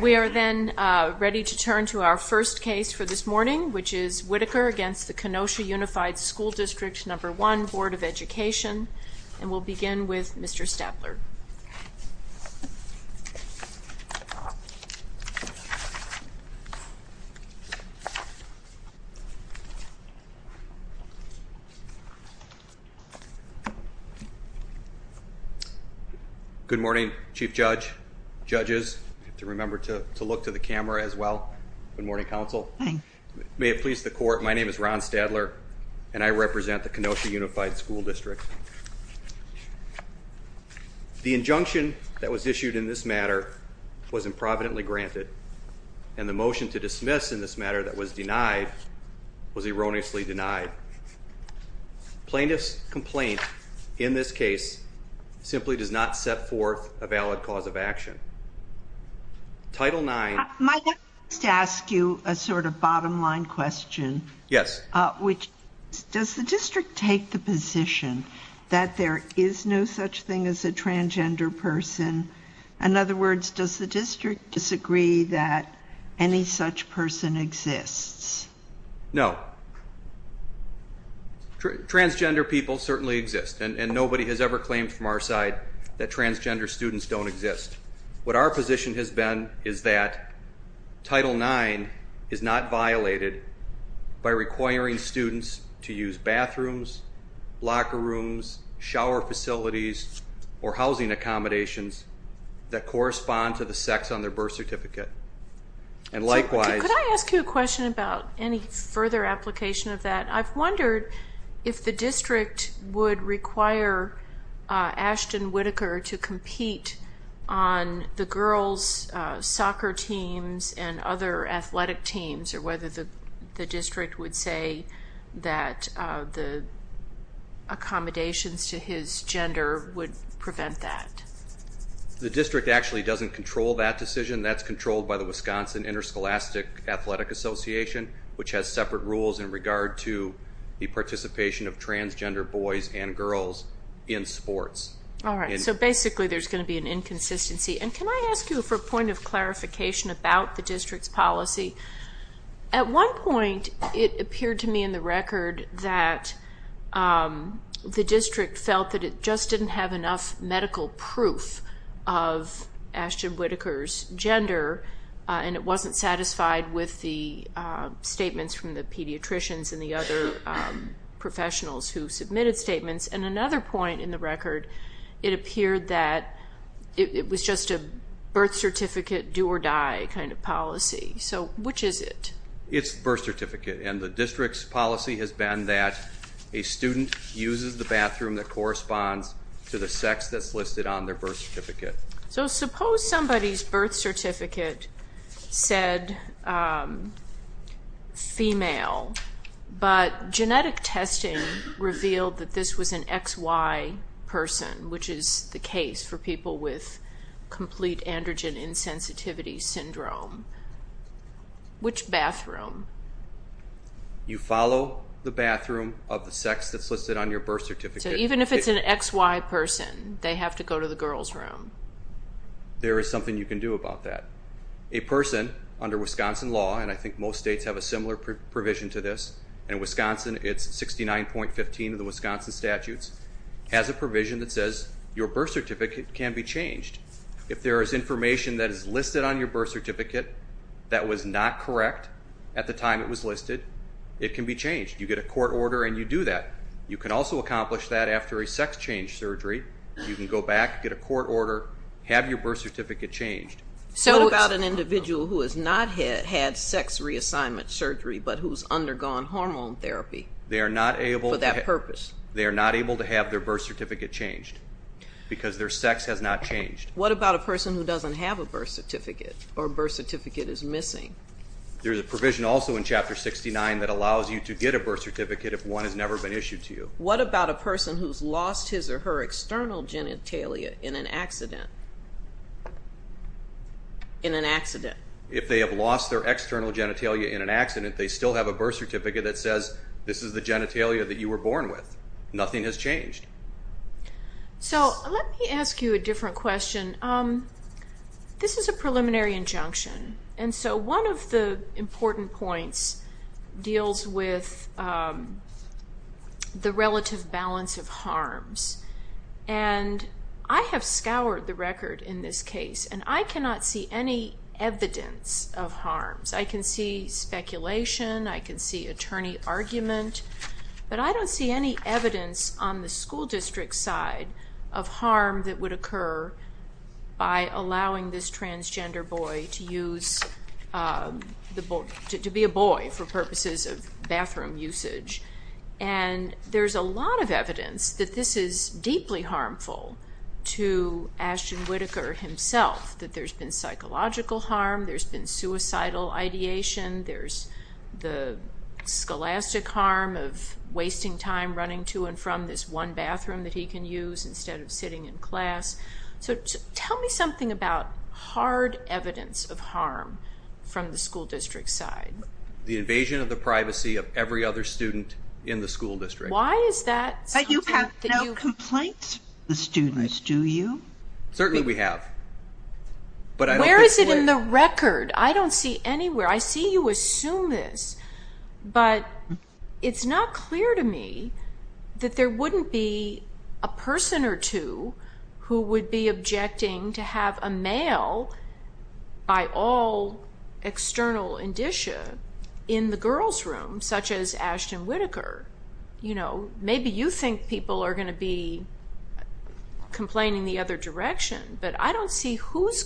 We are then ready to turn to our first case for this morning, which is Whitaker v. Kenosha Unified School District No. 1 Board of Education, and we'll begin with Mr. Stapler. Good morning, Chief Judge, Judges, I have to remember to look to the camera as well. Good morning, Counsel. Good morning. May it please the Court, my name is Ron Stadler, and I represent the Kenosha Unified School District. The injunction that was issued in this matter was improvidently granted, and the motion to dismiss in this matter that was denied was erroneously denied. Plaintiff's complaint in this case simply does not set forth a valid cause of action. Title IX... is no such thing as a transgender person. In other words, does the district disagree that any such person exists? No. Transgender people certainly exist, and nobody has ever claimed from our side that transgender students don't exist. What our position has been is that Title IX is not violated by requiring students to use bathrooms, locker rooms, shower facilities, or housing accommodations that correspond to the sex on their birth certificate. And likewise... Could I ask you a question about any further application of that? I've wondered if the district would require Ashton Whitaker to compete on the girls' soccer teams and other athletic teams, or whether the district would say that the accommodations to his gender would prevent that. The district actually doesn't control that decision. That's controlled by the Wisconsin Interscholastic Athletic Association, which has separate rules in regard to the participation of transgender boys and girls in sports. All right. So basically, there's going to be an inconsistency. And can I ask you for a point of clarification about the district's policy? At one point, it appeared to me in the record that the district felt that it just didn't have enough medical proof of Ashton Whitaker's gender, and it wasn't satisfied with the statements from the pediatricians and the other professionals who submitted statements. And another point in the record, it appeared that it was just a birth certificate, do or die kind of policy. So which is it? It's birth certificate. And the district's policy has been that a student uses the bathroom that corresponds to the sex that's listed on their birth certificate. So suppose somebody's birth certificate said female, but genetic testing revealed that this was an XY person, which is the case for people with complete androgen insensitivity syndrome. Which bathroom? You follow the bathroom of the sex that's listed on your birth certificate. So even if it's an XY person, they have to go to the girls' room? There is something you can do about that. A person under Wisconsin law, and I think most states have a similar provision to this, and Wisconsin, it's 69.15 of the Wisconsin statutes, has a provision that says your birth certificate can be changed. If there is information that is listed on your birth certificate that was not correct at the time it was listed, it can be changed. You get a court order and you do that. You can also accomplish that after a sex change surgery. You can go back, get a court order, have your birth certificate changed. So what about an individual who has not had sex reassignment surgery, but who's undergone hormone therapy for that purpose? They are not able to have their birth certificate changed because their sex has not changed. What about a person who doesn't have a birth certificate or a birth certificate is missing? There's a provision also in Chapter 69 that allows you to get a birth certificate if one has never been issued to you. What about a person who's lost his or her external genitalia in an accident? If they have lost their external genitalia in an accident, they still have a birth certificate that says this is the genitalia that you were born with. Nothing has changed. So let me ask you a different question. This is a preliminary injunction. So one of the important points deals with the relative balance of harms. I have scoured the record in this case and I cannot see any evidence of harms. I can see speculation, I can see attorney argument, but I don't see any evidence on the school district side of harm that would occur by allowing this transgender boy to be a boy for purposes of bathroom usage. There's a lot of evidence that this is deeply harmful to Ashton Whitaker himself. There's been psychological harm, there's been suicidal ideation, there's the scholastic harm of wasting time running to and from this one bathroom that he can use instead of sitting in class. So tell me something about hard evidence of harm from the school district side. The invasion of the privacy of every other student in the school district. Why is that? But you have no complaints of students, do you? Certainly we have. Where is it in the record? I don't see anywhere. I see you assume this, but it's not clear to me that there wouldn't be a person or two who would be objecting to have a male by all external indicia in the girls' room, such as Ashton Whitaker. Maybe you think people are going to be complaining the other direction, but I don't see who's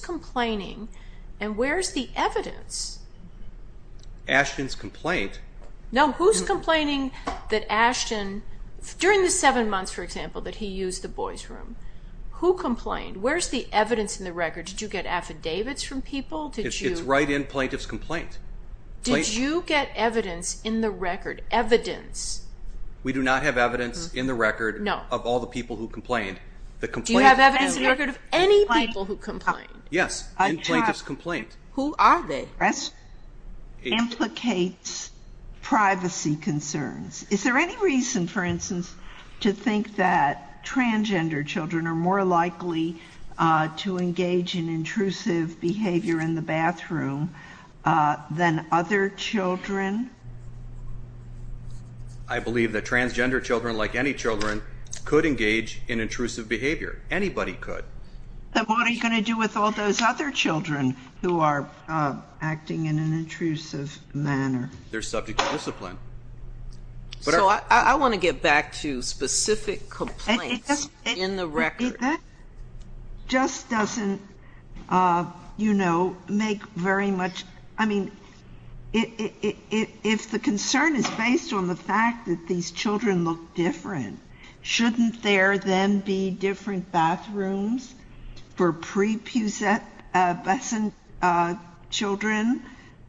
Ashton's complaint. No, who's complaining that Ashton, during the seven months, for example, that he used the boys' room, who complained? Where's the evidence in the record? Did you get affidavits from people? It's right in plaintiff's complaint. Did you get evidence in the record, evidence? We do not have evidence in the record of all the people who complained. Do you have evidence in the record of any people who complained? Yes, in plaintiff's complaint. Who are they? This implicates privacy concerns. Is there any reason, for instance, to think that transgender children are more likely to engage in intrusive behavior in the bathroom than other children? I believe that transgender children, like any children, could engage in intrusive behavior. Anybody could. Then what are you going to do with all those other children who are acting in an intrusive manner? They're subject to discipline. So I want to get back to specific complaints in the record. That just doesn't, you know, make very much... I mean, if the concern is based on the fact that these children look different, shouldn't there then be different bathrooms for pre-pubescent children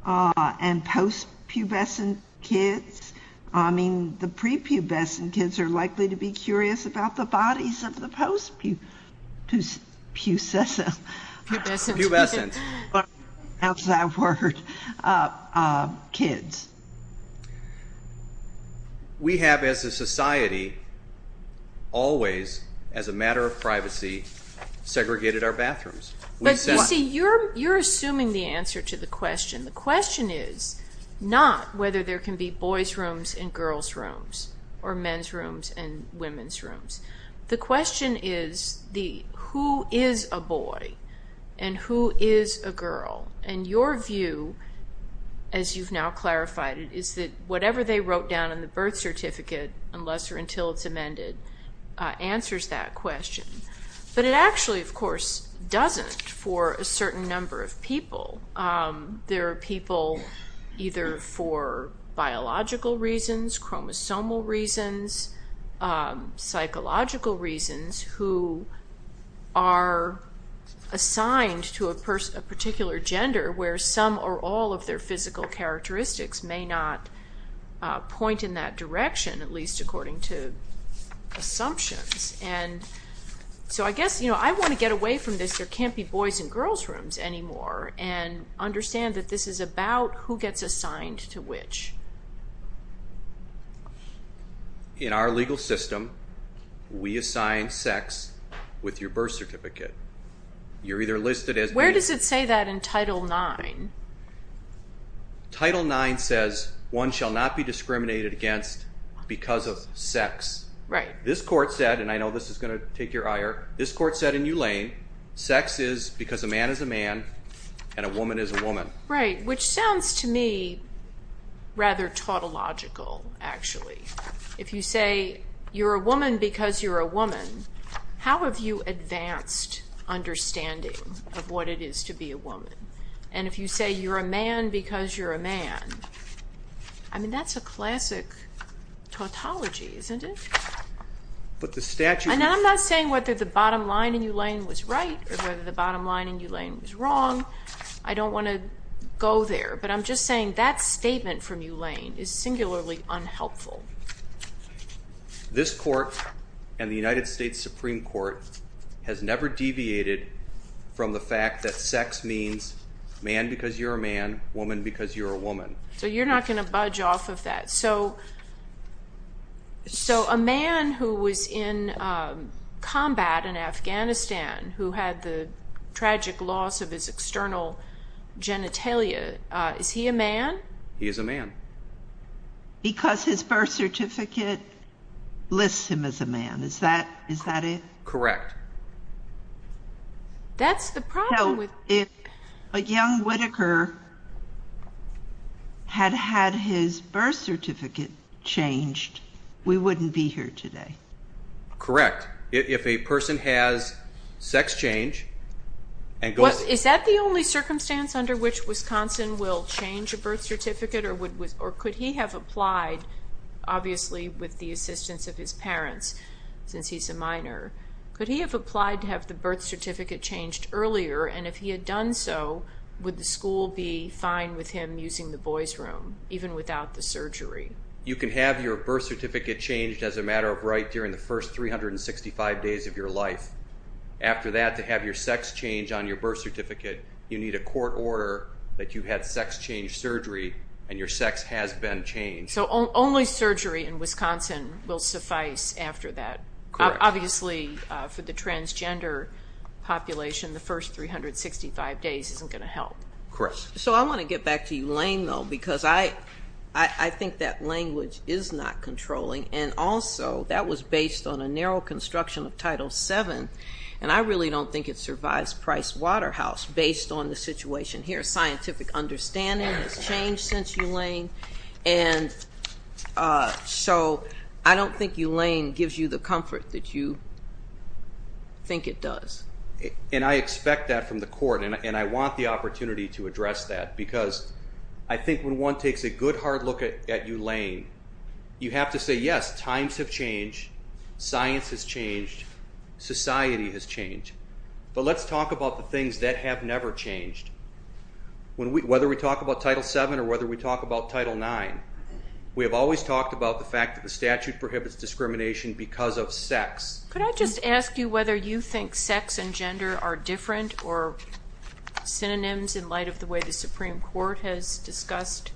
and post-pubescent kids? I mean, the pre-pubescent kids are likely to be curious about the bodies of the post-pubescent kids. We have, as a society, always, as a matter of privacy, segregated our bathrooms. But you see, you're assuming the answer to the question. The question is not whether there can be boys' rooms and girls' rooms or men's rooms and women's rooms. The question is, who is a boy and who is a girl? And your view, as you've now clarified it, is that whatever they wrote down in the birth certificate, unless or until it's amended, answers that question. But it actually, of course, doesn't for a certain number of people. There are people, either for biological reasons, chromosomal reasons, psychological reasons, who are assigned to a particular gender, where some or all of their physical characteristics may not point in that direction, at least according to assumptions. So I guess I want to get away from this, there can't be boys' and girls' rooms anymore, and understand that this is about who gets assigned to which. In our legal system, we assign sex with your birth certificate. You're either listed as being... Where does it say that in Title IX? Title IX says, one shall not be discriminated against because of sex. Right. This court said, and I know this is going to take your ire, this court said in Ulane, sex is because a man is a man and a woman is a woman. Right, which sounds to me rather tautological, actually. If you say, you're a woman because you're a woman, how have you advanced understanding of what it is to be a woman? And if you say, you're a man because you're a man, I mean, that's a classic tautology, isn't it? But the statute... And I'm not saying whether the bottom line in Ulane was right or whether the bottom line in Ulane was wrong. I don't want to go there, but I'm just saying that statement from Ulane is singularly unhelpful. This court and the United States Supreme Court has never deviated from the fact that sex means man because you're a man, woman because you're a woman. So you're not going to budge off of that. So a man who was in combat in Afghanistan, who had the tragic loss of his external genitalia, is he a man? He is a man. Because his birth certificate lists him as a man. Is that it? Correct. That's the problem with... If a young Whitaker had had his birth certificate changed, we wouldn't be here today. Correct. If a person has sex change... Is that the only circumstance under which Wisconsin will change a birth certificate? Or could he have applied, obviously, with the assistance of his parents since he's a minor? Could he have applied to have the birth certificate changed earlier? And if he had done so, would the school be fine with him using the boys' room, even without the surgery? You can have your birth certificate changed as a matter of right during the first 365 days of your life. After that, to have your sex change on your birth certificate, you need a court order that you had sex change surgery and your sex has been changed. So only surgery in Wisconsin will suffice after that. Correct. Obviously, for the transgender population, the first 365 days isn't going to help. Correct. So I want to get back to you, Lane, though, because I think that language is not controlling. And also, that was based on a narrow construction of Title VII, and I really don't think it survives Price Waterhouse based on the situation here. Scientific understanding has changed since you, Lane, and so I don't think you, Lane, gives you the comfort that you think it does. And I expect that from the court, and I want the opportunity to address that, because I think when one takes a good, hard look at you, Lane, you have to say, yes, times have changed, science has changed, society has changed, but let's talk about the things that have never changed. Whether we talk about Title VII or whether we talk about Title IX, we have always talked about the fact that the statute prohibits discrimination because of sex. Could I just ask you whether you think sex and gender are different or synonyms in light of the way the Supreme Court has discussed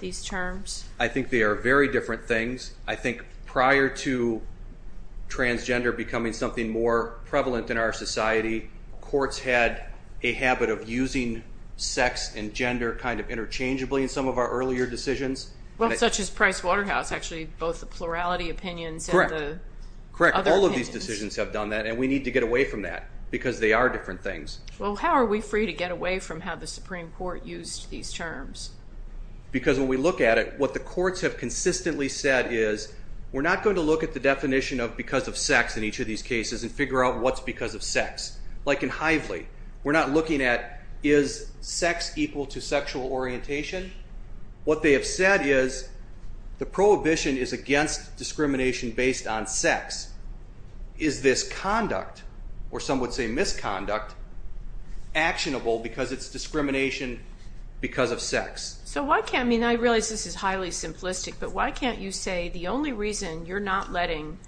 these terms? I think they are very different things. I think prior to transgender becoming something more prevalent in our society, courts had a habit of using sex and gender kind of interchangeably in some of our earlier decisions. Well, such as Price Waterhouse, actually, both the plurality opinions and the other opinions. Correct, all of these decisions have done that, and we need to get away from that, because they are different things. Well, how are we free to get away from how the Supreme Court used these terms? Because when we look at it, what the courts have consistently said is we're not going to look at the definition of because of sex in each of these cases and figure out what's because of sex. Like in Hively, we're not looking at is sex equal to sexual orientation? What they have said is the prohibition is against discrimination based on sex. Is this conduct, or some would say misconduct, actionable because it's discrimination because of sex? So why can't... I mean, I realize this is highly simplistic, but why can't you say the only reason you're not letting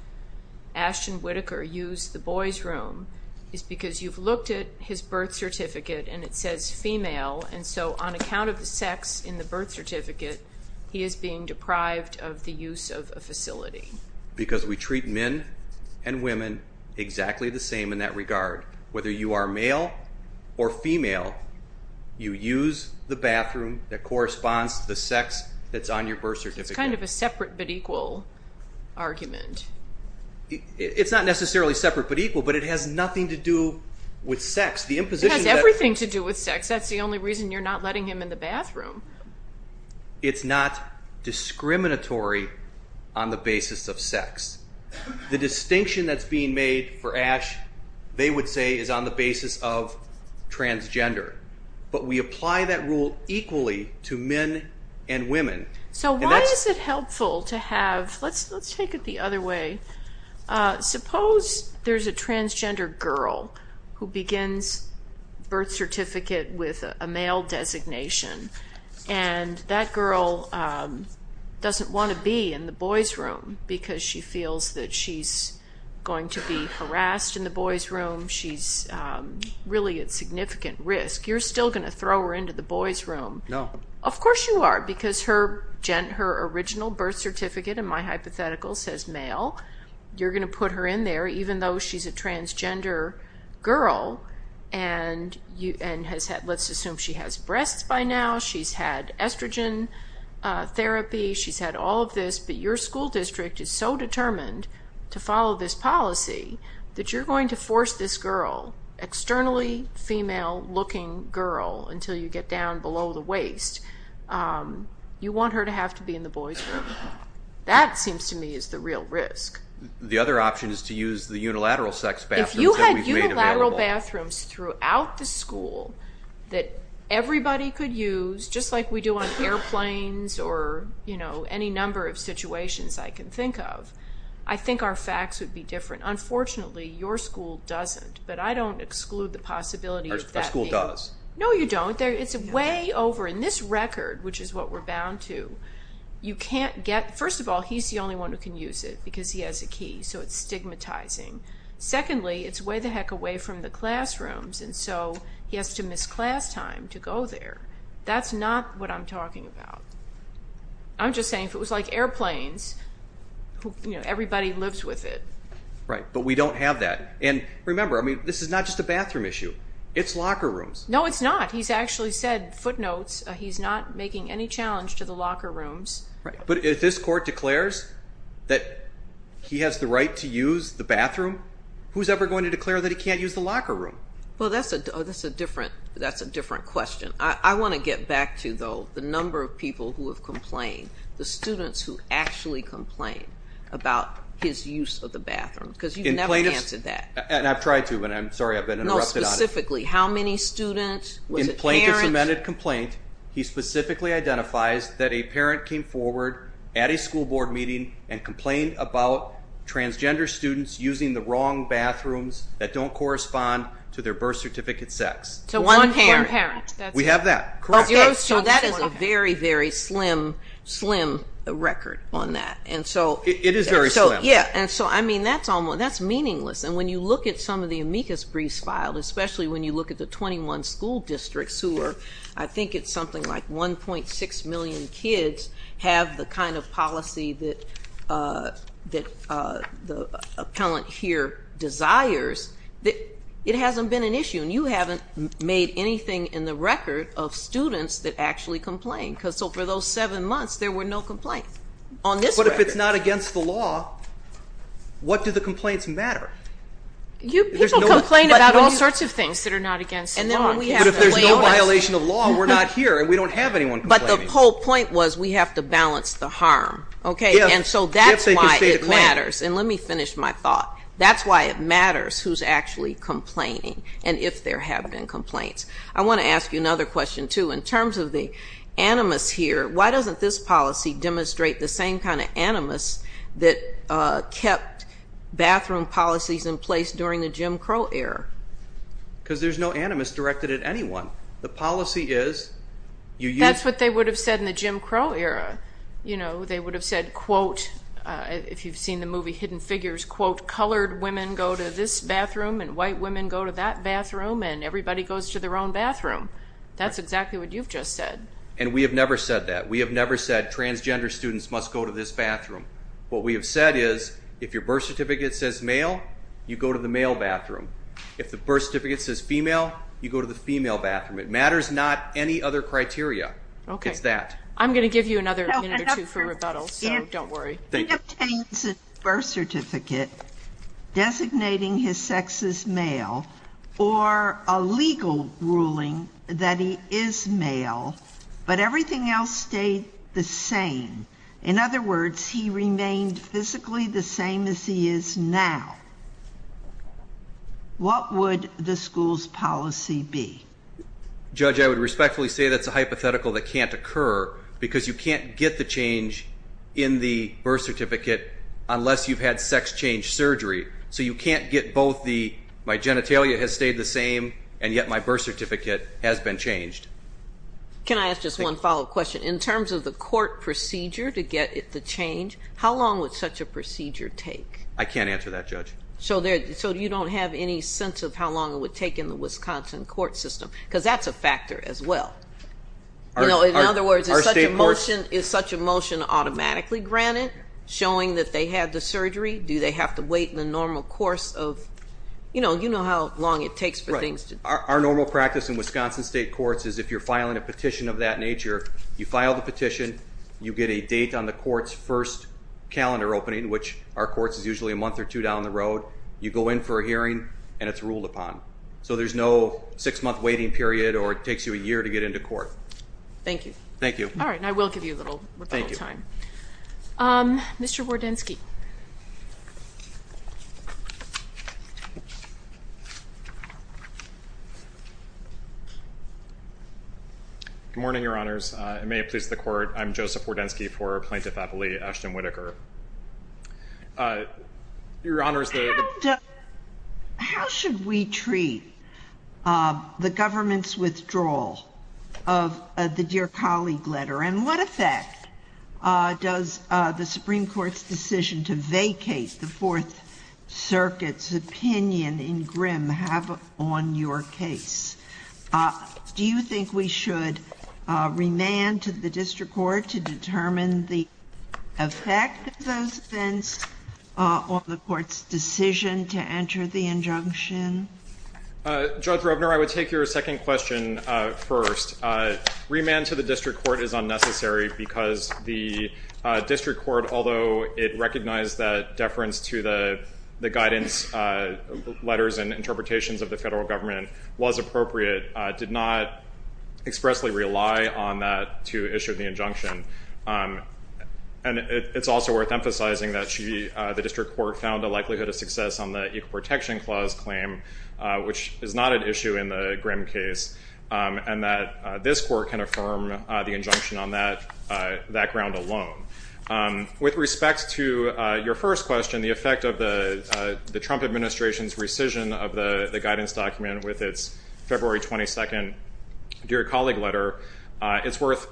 Ashton Whitaker use the boys' room is because you've looked at his birth certificate and it says female, and so on account of the sex in the birth certificate, he is being deprived of the use of a facility? Because we treat men and women exactly the same in that regard, whether you are male or female, you use the bathroom that corresponds to the sex that's on your birth certificate. It's kind of a separate-but-equal argument. It's not necessarily separate-but-equal, but it has nothing to do with sex. It has everything to do with sex. That's the only reason you're not letting him in the bathroom. It's not discriminatory on the basis of sex. The distinction that's being made for Ash, they would say, is on the basis of transgender. But we apply that rule equally to men and women. So why is it helpful to have... Let's take it the other way. Suppose there's a transgender girl who begins birth certificate with a male designation, and that girl doesn't want to be in the boys' room because she feels that she's going to be harassed in the boys' room. She's really at significant risk. You're still going to throw her into the boys' room. Of course you are, because her original birth certificate, in my hypothetical, says male. You're going to put her in there even though she's a transgender girl and has had... Let's assume she has breasts by now. She's had estrogen therapy. She's had all of this. Your school district is so determined to follow this policy that you're going to force this girl, externally female-looking girl, until you get down below the waist. You want her to have to be in the boys' room. That seems to me is the real risk. The other option is to use the unilateral sex bathrooms. If you had unilateral bathrooms throughout the school that everybody could use, just like we do on airplanes or any number of situations I can think of, I think our facts would be different. Unfortunately, your school doesn't, but I don't exclude the possibility of that. Our school does. No, you don't. It's way over in this record, which is what we're bound to. First of all, he's the only one who can use it because he has a key, so it's stigmatizing. Secondly, it's way the heck away from the classrooms, so he has to miss class time to go there. That's not what I'm talking about. I'm just saying if it was like airplanes, everybody lives with it. Right, but we don't have that. And remember, this is not just a bathroom issue. It's locker rooms. No, it's not. He's actually said, footnotes, he's not making any challenge to the locker rooms. But if this court declares that he has the right to use the bathroom, who's ever going to declare that he can't use the locker room? Well, that's a different question. I want to get back to, though, the number of people who have complained, the students who actually complained about his use of the bathroom. Because you've never answered that. And I've tried to, but I'm sorry, I've been interrupted on it. No, specifically, how many students? In Plaintiff's amended complaint, he specifically identifies that a parent came forward at a school board meeting and complained about transgender students using the wrong bathrooms that don't correspond to their birth certificate sex. To one parent. We have that. So that is a very, very slim, slim record on that. It is very slim. And so, I mean, that's meaningless. And when you look at some of the amicus briefs filed, especially when you look at the 21 school districts who are, I think it's something like 1.6 million kids have the kind of policy that the appellant here desires, it hasn't been an issue. And you haven't made anything in the record of students that actually complained. So for those seven months there were no complaints. But if it's not against the law, what do the complaints matter? People complain about all sorts of things that are not against the law. But if there's no violation of law, we're not here and we don't have anyone complaining. But the whole point was we have to balance the harm. And so that's why it matters. And let me finish my thought. That's why it matters who's actually complaining and if there have been complaints. I want to ask you another question, too. In terms of the animus here, why doesn't this policy demonstrate the same kind of animus that kept bathroom policies in place during the Jim Crow era? Because there's no animus directed at anyone. The policy is That's what they would have said in the Jim Crow era. They would have said, if you've seen the movie Hidden Figures, colored women go to this bathroom and white women go to that bathroom and everybody goes to their own bathroom. That's exactly what you've just said. And we have never said that. We have never said transgender students must go to this bathroom. What we have said is if your birth certificate says male, you go to the male bathroom. If the birth certificate says female, you go to the female bathroom. It matters not any other criteria. I'm going to give you another minute or two for rebuttal, so don't worry. If he obtains a birth certificate designating his sex as male or a legal ruling that he is male but everything else stayed the same, in other words, he remained physically the same as he is now, what would the school's policy be? Judge, I would respectfully say that's a hypothetical that can't occur because you can't get the change in the birth certificate unless you've had sex change surgery. So you can't get both the, my genitalia has stayed the same and yet my birth certificate has been changed. Can I ask just one follow-up question? In terms of the court procedure to get the change, how long would such a procedure take? I can't answer that, Judge. So you don't have any sense of how long it would take in the Wisconsin court system? Because that's a factor as well. In other words, is such a motion automatically granted, showing that they had the surgery? Do they have to wait in the normal course of, you know how long it takes for things to Our normal practice in Wisconsin state courts is if you're filing a petition of that nature, you file the petition, you get a date on the court's first calendar opening, which our courts is usually a month or two down the road, you go in for a hearing and it's ruled upon. So there's no six month waiting period or it takes you a year to get into court. Thank you. I will give you a little time. Mr. Wardensky. Good morning, Your Honors. May it please the court, I'm Joseph Wardensky for Plaintiff Appellee Ashton Whitaker. Your Honors, How should we treat the government's withdrawal of the Dear Colleague letter and what effect does the Supreme Court's decision to vacate the Fourth Circuit's opinion in Grimm have on your case? Do you think we should remand to the district court to determine the effect of those events on the court's decision to enter the injunction? Judge Roebner, I would take your second question first. Remand to the district court is unnecessary because the district court, although it recognized that deference to the guidance letters and interpretations of the federal government was appropriate, did not expressly rely on that to issue the injunction. And it's also worth emphasizing that the district court found a likelihood of success on the Equal Protection Clause claim, which is not an issue in the Grimm case, and that this court can affirm the injunction on that ground alone. With respect to your first question, the effect of the Trump administration's rescission of the guidance document with its February 22nd Dear Colleague letter, it's worth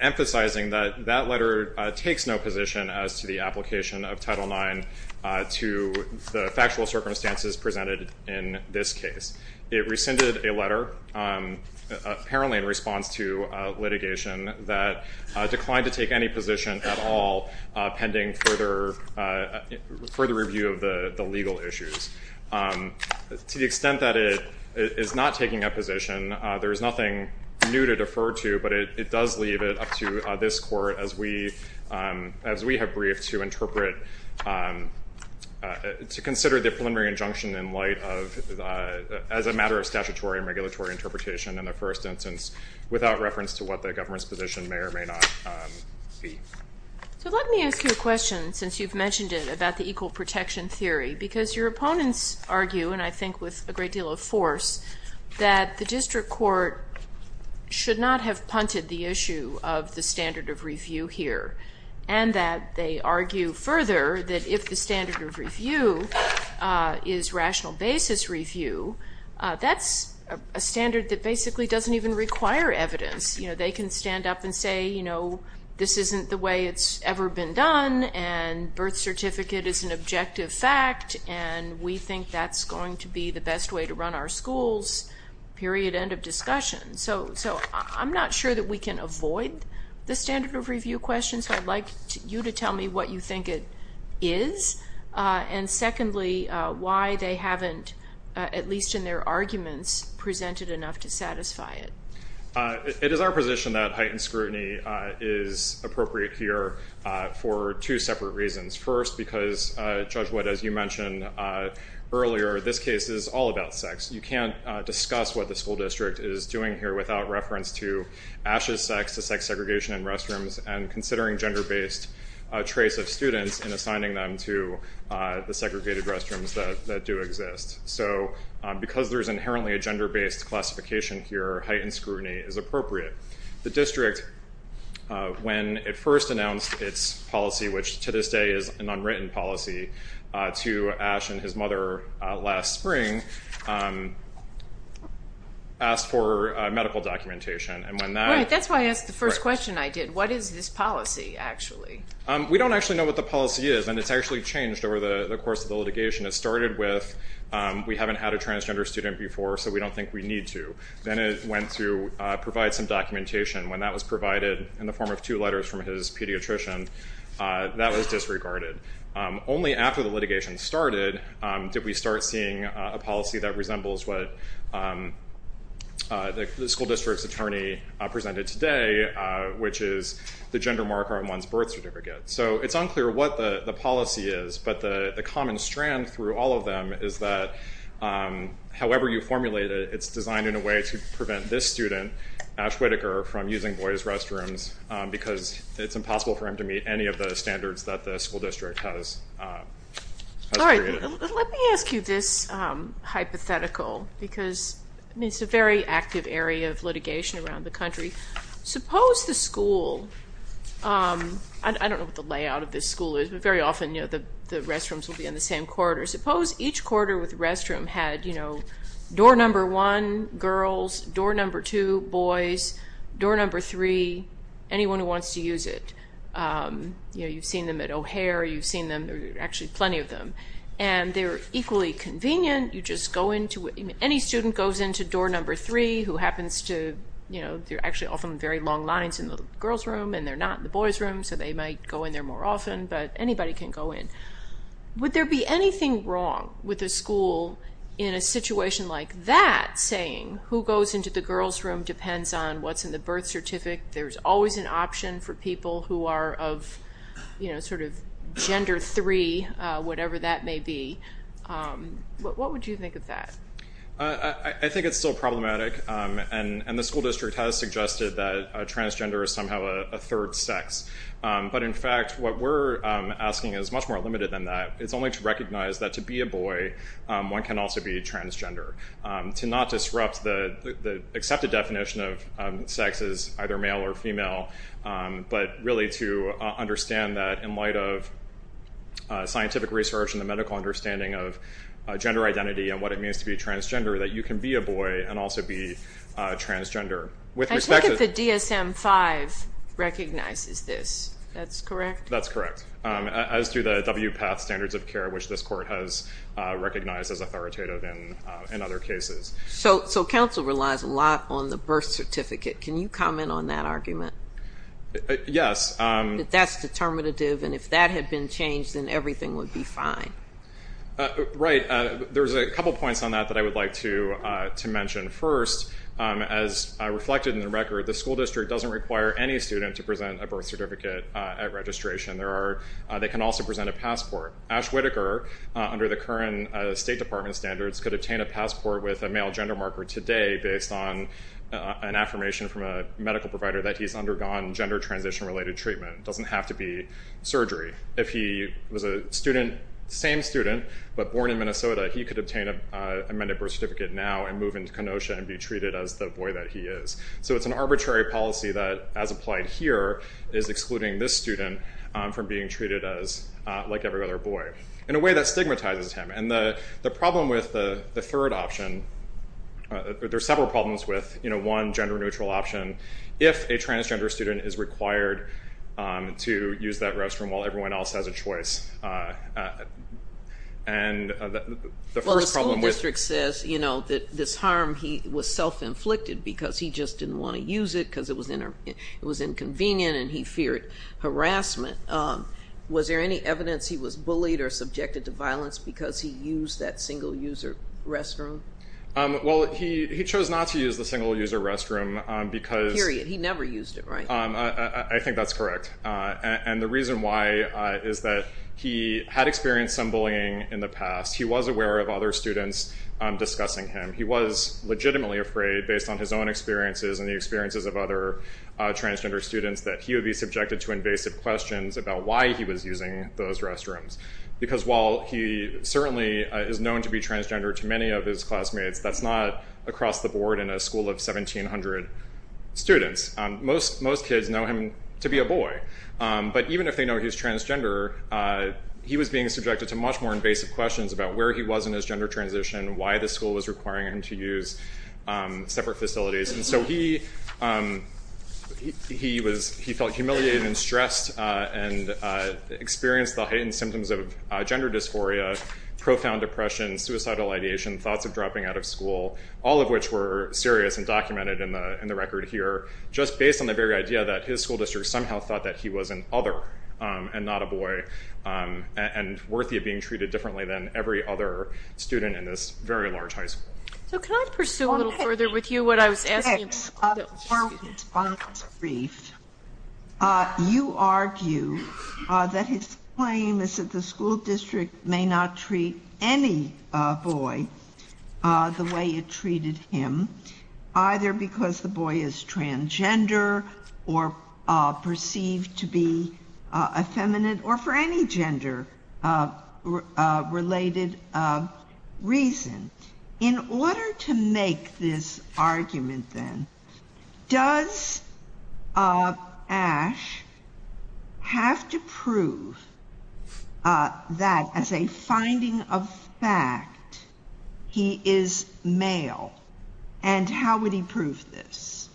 emphasizing that that letter takes no position as to the application of Title IX to the factual circumstances presented in this case. It rescinded a letter apparently in response to litigation that declined to take any position at all pending further review of the legal issues. To the extent that it is not taking a position, there is nothing new to defer to, but it does leave it up to this court as we have briefed, to interpret to consider the preliminary injunction in light of, as a matter of statutory and regulatory interpretation in the first instance, without reference to what the government's position may or may not be. So let me ask you a question, since you've mentioned it, about the equal protection theory, because your opponents argue, and I think with a great deal of force, that the district court should not have punted the issue of the standard of review here and that they argue further that if the standard of review is rational basis review, that's a standard that basically doesn't even require evidence. They can stand up and say this isn't the way it's ever been done and birth certificate is an objective fact and we think that's going to be the best way to run our school's period end of discussion. So I'm not sure that we can avoid the standard of review question, so I'd like you to tell me what you think it is and secondly, why they haven't, at least in their arguments, presented enough to satisfy it. It is our position that heightened scrutiny is appropriate here for two separate reasons. First, because Judge Wood, as you mentioned earlier, this case is all about sex. You can't discuss what the school district is doing here without reference to Ash's sex, the sex segregation in restrooms and considering gender based trace of students and assigning them to the segregated restrooms that do exist. So because there's inherently a gender based classification here, heightened scrutiny is appropriate. The district when it first announced its policy, which to this day is an unwritten policy, to Ash and his mother last spring asked for medical documentation and when that... Right, that's why I asked the first question I did. What is this policy actually? We don't actually know what the policy is and it's actually changed over the course of the litigation. It started with we haven't had a transgender student before so we don't think we need to. Then it went to provide some documentation when that was provided in the form of two letters from his pediatrician that was disregarded. Only after the litigation started did we start seeing a policy that resembles what the school district's attorney presented today which is the gender marker on one's birth certificate. So it's unclear what the policy is but the common strand through all of them is that however you formulate it, it's designed in a way to prevent this student, Ash Whitaker from using boys restrooms because it's impossible for him to meet any of the standards that the school district has created. Let me ask you this hypothetical because it's a very active area of litigation around the country. Suppose the school I don't know what the layout of this school is but very often the restrooms will be on the same corridor. Suppose each corridor with a restroom had door number one, girls door number two, boys door number three, anyone who wants to use it. You've seen them at O'Hare you've seen them, actually plenty of them and they're equally convenient you just go into, any student goes into door number three who happens to, they're actually often very long lines in the girls room and they're not in the boys room so they might go in there more often but anybody can go in. Would there be anything wrong with a school in a situation like that saying who goes into the girls room depends on what's in the birth certificate. There's always an option for people who are of gender three, whatever that may be. What would you think of that? I think it's still problematic and the school district has suggested that transgender is somehow a third sex but in fact what we're asking is much more limited than that it's only to recognize that to be a boy one can also be transgender to not disrupt the accepted definition of sex as either male or female but really to understand that in light of scientific research and the medical understanding of gender identity and what it means to be transgender that you can be a boy and also be transgender. I take it the DSM 5 recognizes this, that's correct? That's correct as do the WPATH standards of care which this court has recognized as authoritative in other cases. So council relies a lot on the birth certificate can you comment on that argument? Yes. That's determinative and if that had been changed then everything would be fine. Right. There's a couple points on that that I would like to mention. First, as reflected in the record, the school district doesn't require any student to present a birth certificate at registration. They can also present a passport. Ash Whitaker, under the current State Department standards, could obtain a birth certificate based on an affirmation from a medical provider that he's undergone gender transition related treatment. It doesn't have to be surgery. If he was a student, same student, but born in Minnesota he could obtain an amended birth certificate now and move into Kenosha and be treated as the boy that he is. So it's an arbitrary policy that as applied here is excluding this student from being treated as like every other boy. In a way that stigmatizes him and the problem with the third option there's several problems with one gender neutral option. If a transgender student is required to use that restroom while everyone else has a choice and the first problem with... Well the school district says that this harm he was self inflicted because he just didn't want to use it because it was inconvenient and he feared harassment. Was there any evidence he was bullied or subjected to violence because he used that single user restroom? He chose not to use the single user restroom because... Period. He never used it, right? I think that's correct and the reason why is that he had experienced some bullying in the past. He was aware of other students discussing him. He was legitimately afraid based on his own experiences and the experiences of other transgender students that he would be subjected to invasive questions about why he was using those restrooms because while he certainly is known to be transgender to many of his classmates, that's not across the board in a school of 1,700 students. Most kids know him to be a boy but even if they know he's transgender he was being subjected to much more invasive questions about where he was in his gender transition, why the school was requiring him to use separate facilities and so he felt humiliated and stressed and experienced the heightened symptoms of gender dysphoria, profound depression, suicidal ideation, thoughts of dropping out of school, all of which were serious and documented in the record here just based on the very idea that his school district somehow thought that he was an other and not a boy and worthy of being treated differently than every other student in this very large high school. So can I pursue a little further with you what I was asking? Well, you Chief, you argue that his claim is that the school district may not treat any boy the way it treated him either because the boy is transgender or perceived to be effeminate or for any gender related reason. In order to make this argument then, does Ash have to prove that as a finding of fact he is male and how would he prove this?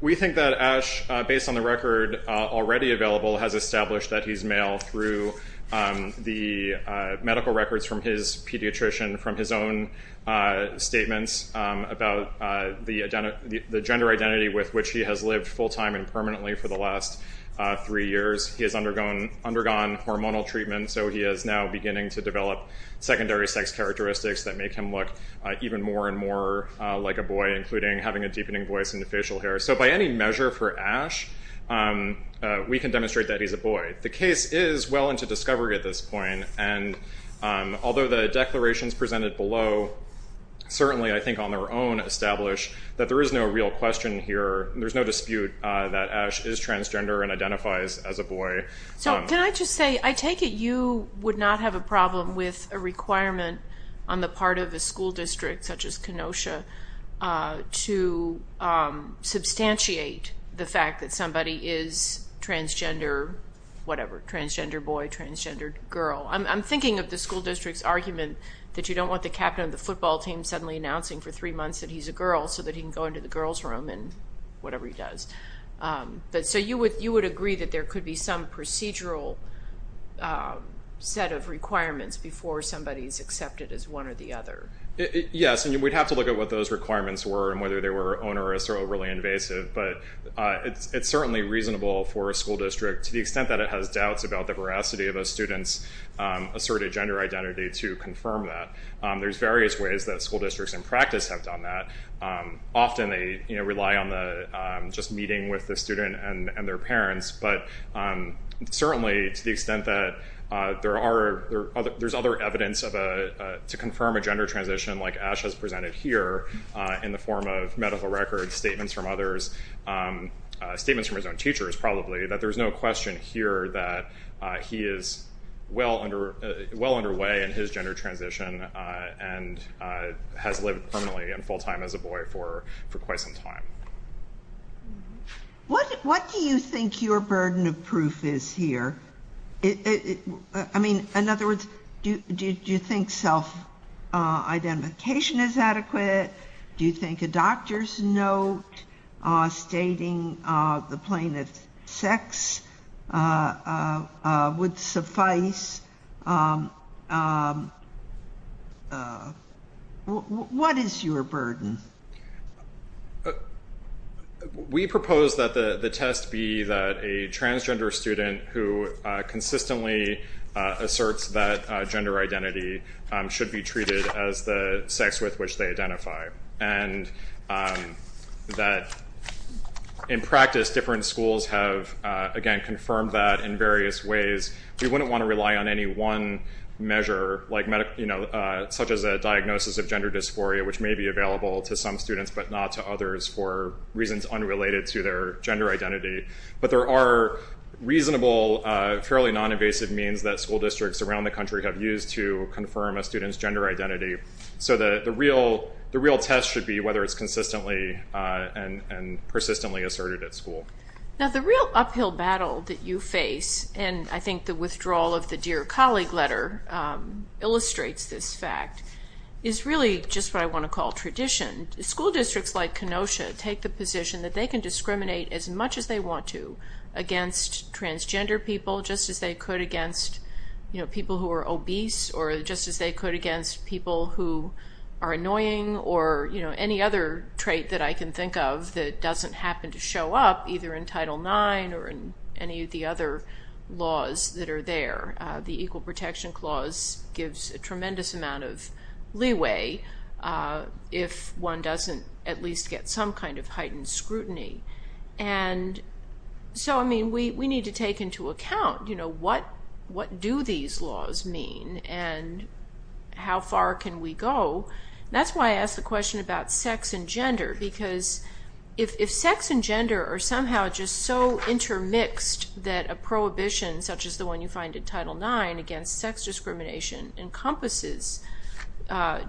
We think that Ash, based on the record already available, has established that he's male through the medical records from his pediatrician, from his own statements about the gender identity with which he has lived full time and permanently for the last three years. He has undergone hormonal treatment so he is now beginning to develop secondary sex characteristics that make him look even more and more like a boy, including having a deepening voice and facial hair. So by any measure for Ash, we can demonstrate that he's a boy. The case is well into discovery at this point and although the declarations presented below certainly I think on their own establish that there is no real question here. There's no dispute that Ash is transgender and identifies as a boy. So can I just say, I take it you would not have a problem with a requirement on the part of a school district such as Kenosha to substantiate the fact that somebody is transgender whatever, transgender boy transgender girl. I'm thinking of the school district's argument that you don't want the captain of the football team suddenly announcing for three months that he's a girl so that he can go into the girls room and whatever he does. So you would agree that there could be some procedural set of requirements before somebody is accepted as one or the other. Yes, and we'd have to look at what those requirements were and whether they were onerous or overly invasive, but it's certainly reasonable for a school district to the extent that it has doubts about the veracity of a student's asserted gender identity to confirm that. There's various ways that school districts in practice have done that. Often they rely on the meeting with the student and their parents but certainly to the extent that there's other evidence to confirm a gender transition like Ash has presented here in the form of medical records, statements from others, statements from his own teachers probably, that there's no question here that he is well underway in his gender transition and has lived permanently and full-time as a boy for quite some time. What do you think your burden of proof is here? In other words, do you think self-identification is adequate? Do you think a doctor's note stating the would suffice? What is your burden? We propose that the test be that a transgender student who consistently asserts that gender identity should be treated as the sex with which they identify and that in practice different schools have again confirmed that in various ways. We wouldn't want to rely on any one measure such as a diagnosis of gender dysphoria which may be available to some students but not to others for reasons unrelated to their gender identity but there are reasonable, fairly non-invasive means that school districts around the country have used to confirm a student's gender identity so the real test should be whether it's consistently and persistently asserted at school. The real uphill battle that you face and I think the withdrawal of the Dear Colleague letter illustrates this fact, is really just what I want to call tradition. School districts like Kenosha take the position that they can discriminate as much as they want to against transgender people just as they could against people who are obese or just as they could against people who are annoying or any other trait that I can think of that doesn't happen to show up either in Title IX or in any of the other laws that are there. The Equal Protection Clause gives a tremendous amount of leeway if one doesn't at least get some kind of heightened scrutiny. We need to take into account what do these laws mean and how far can we go. That's why I think it's important because if sex and gender are somehow just so intermixed that a prohibition such as the one you find in Title IX against sex discrimination encompasses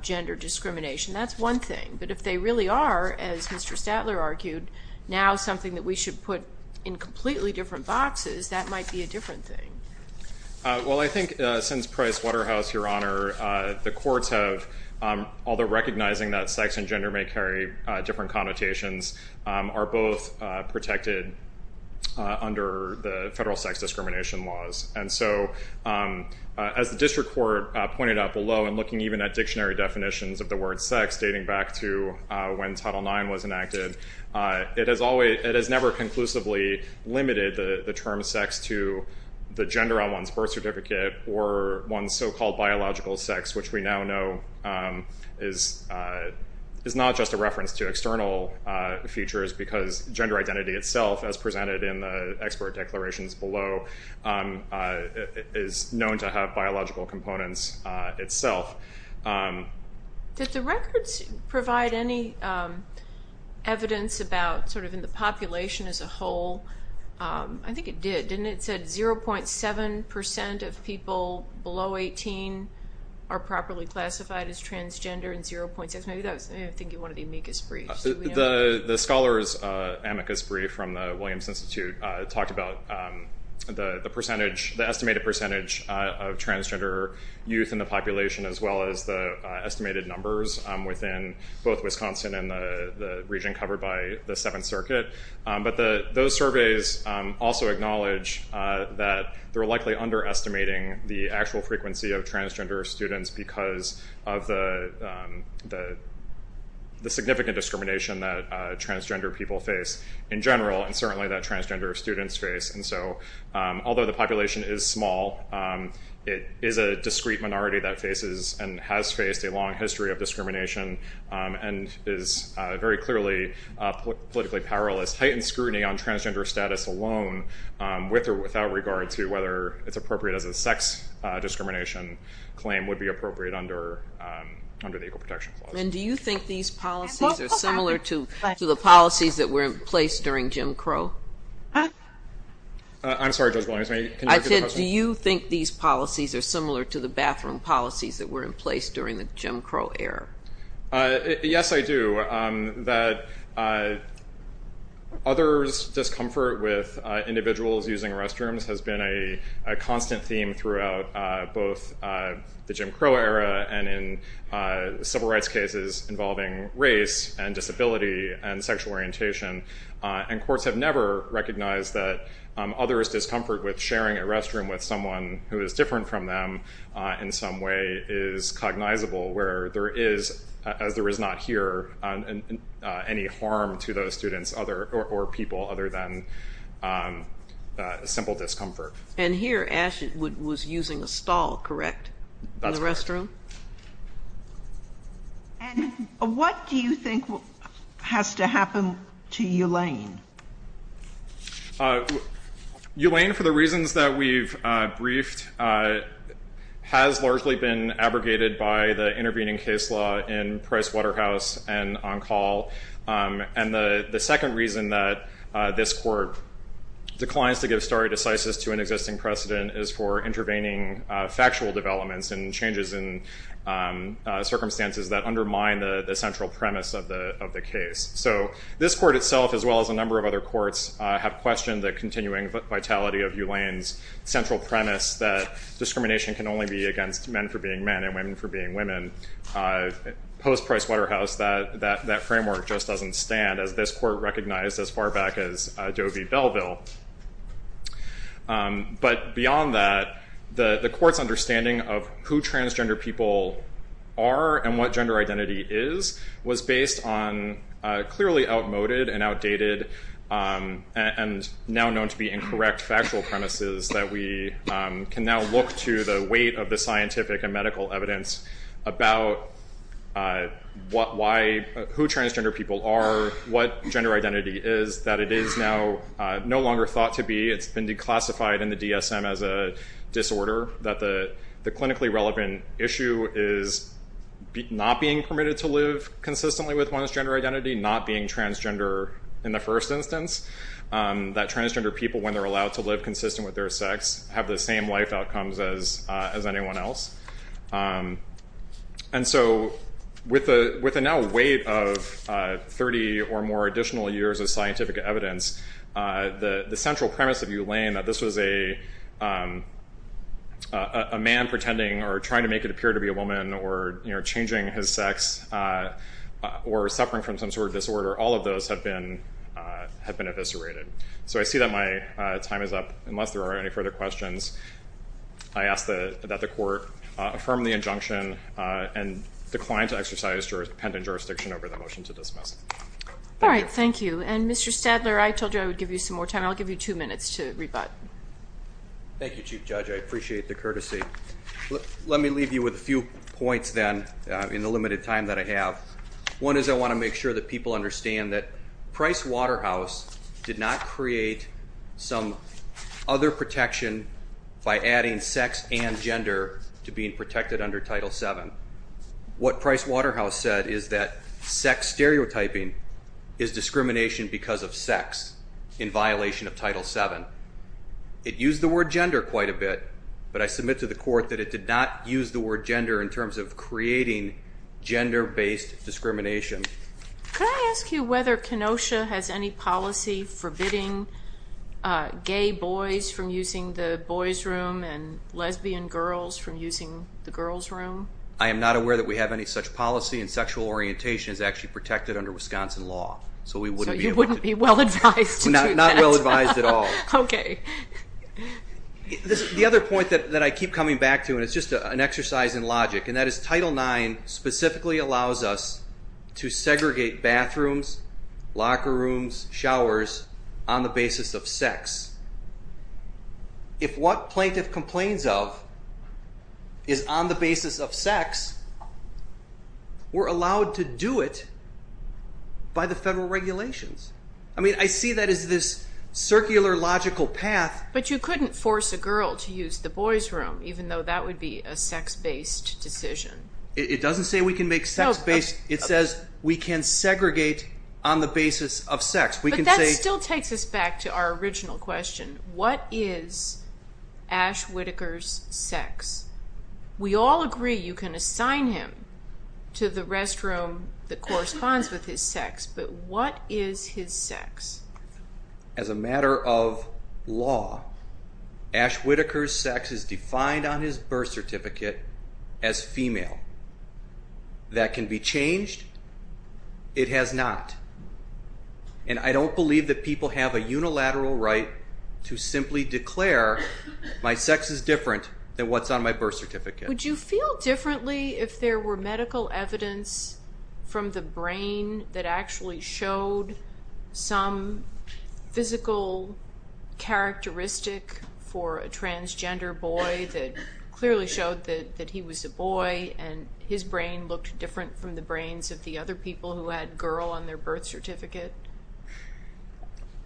gender discrimination, that's one thing. But if they really are, as Mr. Statler argued, now something that we should put in completely different boxes, that might be a different thing. Well I think since Price-Waterhouse, Your Honor, the courts have although recognizing that sex and gender may carry different connotations, are both protected under the federal sex discrimination laws. And so as the District Court pointed out below and looking even at dictionary definitions of the word sex dating back to when Title IX was enacted, it has never conclusively limited the term sex to the gender on one's birth certificate or one's so-called biological sex, which we now know is not just a reference to external features because gender identity itself as presented in the expert declarations below is known to have biological components itself. Did the records provide any evidence about, sort of, the population as a whole? I think it did, didn't it? It said 0.7% of people below 18 are properly classified as transgender in 0.6. Maybe that was, I think, one of the amicus briefs. The scholars amicus brief from the Williams Institute talked about the percentage, the estimated percentage of transgender youth in the population as well as the estimated numbers within both Wisconsin and the region covered by the Seventh Circuit. But those surveys also acknowledge that they're likely underestimating the actual frequency of transgender students because of the significant discrimination that transgender people face in general and certainly that transgender students face. Although the population is small, it is a discrete minority that faces and has faced a long history of discrimination and is very clearly politically powerless. Heightened scrutiny on transgender status alone with or without regard to whether it's appropriate as a sex discrimination claim would be appropriate under the Equal Protection Clause. And do you think these policies are similar to the policies that were in place during Jim Crow? Huh? I'm sorry, Judge Williams. I said do you think these policies are similar to the bathroom policies that were in place during the Jim Crow era? Yes, I do. Others discomfort with individuals using restrooms has been a constant theme throughout both the Jim Crow era and in civil rights cases involving race and disability and sexual orientation. And courts have never recognized that others' discomfort with sharing a restroom with someone who is different from them in some way is cognizable where there is, as there is not here, any harm to those students or people other than simple discomfort. And here, Ash was using a stall, correct? That's correct. And what do you think has to happen to Elaine? Elaine, for the reasons that we've briefed, has largely been abrogated by the intervening case law in Price Waterhouse and on call. And the second reason that this court declines to give stare decisis to an existing precedent is for intervening factual developments and changes in circumstances that undermine the central premise of the case. So this court itself, as well as a number of other courts, have questioned the continuing vitality of Elaine's central premise that discrimination can only be against men for being men and women for being women. Post-Price Waterhouse, that framework just doesn't stand, as this court recognized as far back as Doe v. Belleville. But beyond that, the court's understanding of who transgender people are and what gender identity is was based on clearly outmoded and outdated and now known to be incorrect factual premises that we can now look to the weight of the scientific and medical evidence about who transgender people are, what gender identity is, that it is now no longer thought to be, it's been declassified in the DSM as a disorder, that the clinically relevant issue is not being permitted to live consistently with one's gender identity, not being transgender in the first instance, that transgender people, when they're allowed to live consistent with their sex, have the same life outcomes as anyone else. And so with the now weight of 30 or more additional years of scientific evidence, the central premise of U Lane, that this was a man pretending or trying to make it appear to be a woman or changing his sex or suffering from some sort of disorder, all of those have been eviscerated. So I see that my time is up, unless there are any further questions. I ask that the court affirm the injunction and decline to exercise pendant jurisdiction over the motion to dismiss. Alright, thank you. And Mr. Stadler, I told you I would give you some more time. I'll give you two minutes to rebut. Thank you, Chief Judge. I appreciate the courtesy. Let me leave you with a few points then, in the limited time that I have. One is I want to make sure that people understand that Price Waterhouse did not create some other protection by adding sex and gender to being protected under Title VII. What Price Waterhouse said is that sex stereotyping is discrimination because of sex in violation of Title VII. It used the word gender quite a bit, but I submit to the court that it did not use the word gender in terms of creating gender-based discrimination. Can I ask you whether Kenosha has any policy forbidding gay boys from using the boys' room and lesbian girls from using the girls' room? I am not aware that we have any such policy, and sexual orientation is actually protected under Wisconsin law. So you wouldn't be well advised to do that? Not well advised at all. Okay. The other point that I keep coming back to, and it's just an exercise in logic, and that is Title IX specifically allows us to segregate bathrooms, locker rooms, showers on the basis of sex. If what plaintiff complains of is on the basis of sex, we're allowed to do it by the federal regulations. I mean, I see that as this circular, logical path. But you couldn't force a girl to use the boys' room, even though that would be a sex-based decision. It doesn't say we can make sex-based... It says we can segregate on the basis of sex. But that still takes us back to our original question. What is Ash Whitaker's sex? We all agree you can assign him to the restroom that corresponds with his sex, but what is his sex? As a matter of law, Ash Whitaker's sex is defined on his birth certificate as female. That can be changed. It has not. And I don't believe that people have a unilateral right to simply declare my sex is different than what's on my birth certificate. Would you feel differently if there were medical evidence from the brain that actually showed some physical characteristic for a transgender boy that clearly showed that he was a boy and his brain looked different from the brains of the other people who had girl on their birth certificate?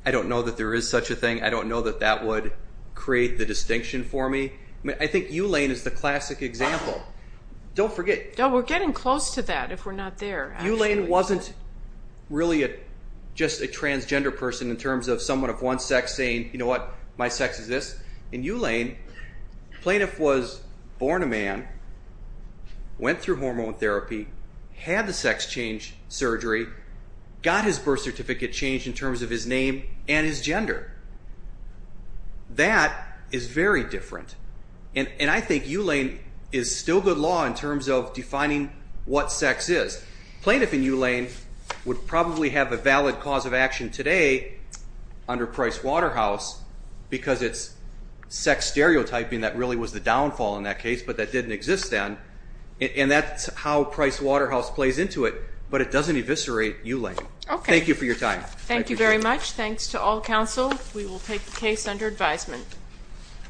I don't know that there is such a thing. I don't know that that would create the distinction for me. I think Eulaine is the classic example. Don't forget... We're getting close to that if we're not there. Eulaine wasn't really just a transgender person in terms of someone of one sex saying, you know what, my sex is this. In Eulaine, plaintiff was born a man, went through hormone therapy, had the sex change surgery, got his birth certificate changed in terms of his name and his gender. That is very different. And I think Eulaine is still good law in terms of defining what sex is. Plaintiff in Eulaine would probably have a valid cause of action today under Price Waterhouse because it's sex stereotyping that really was the downfall in that case, but that didn't exist then. And that's how Price Waterhouse plays into it, but it doesn't eviscerate Eulaine. Thank you for your time. Thank you very much. Thanks to all counsel. We will take the case under advisement.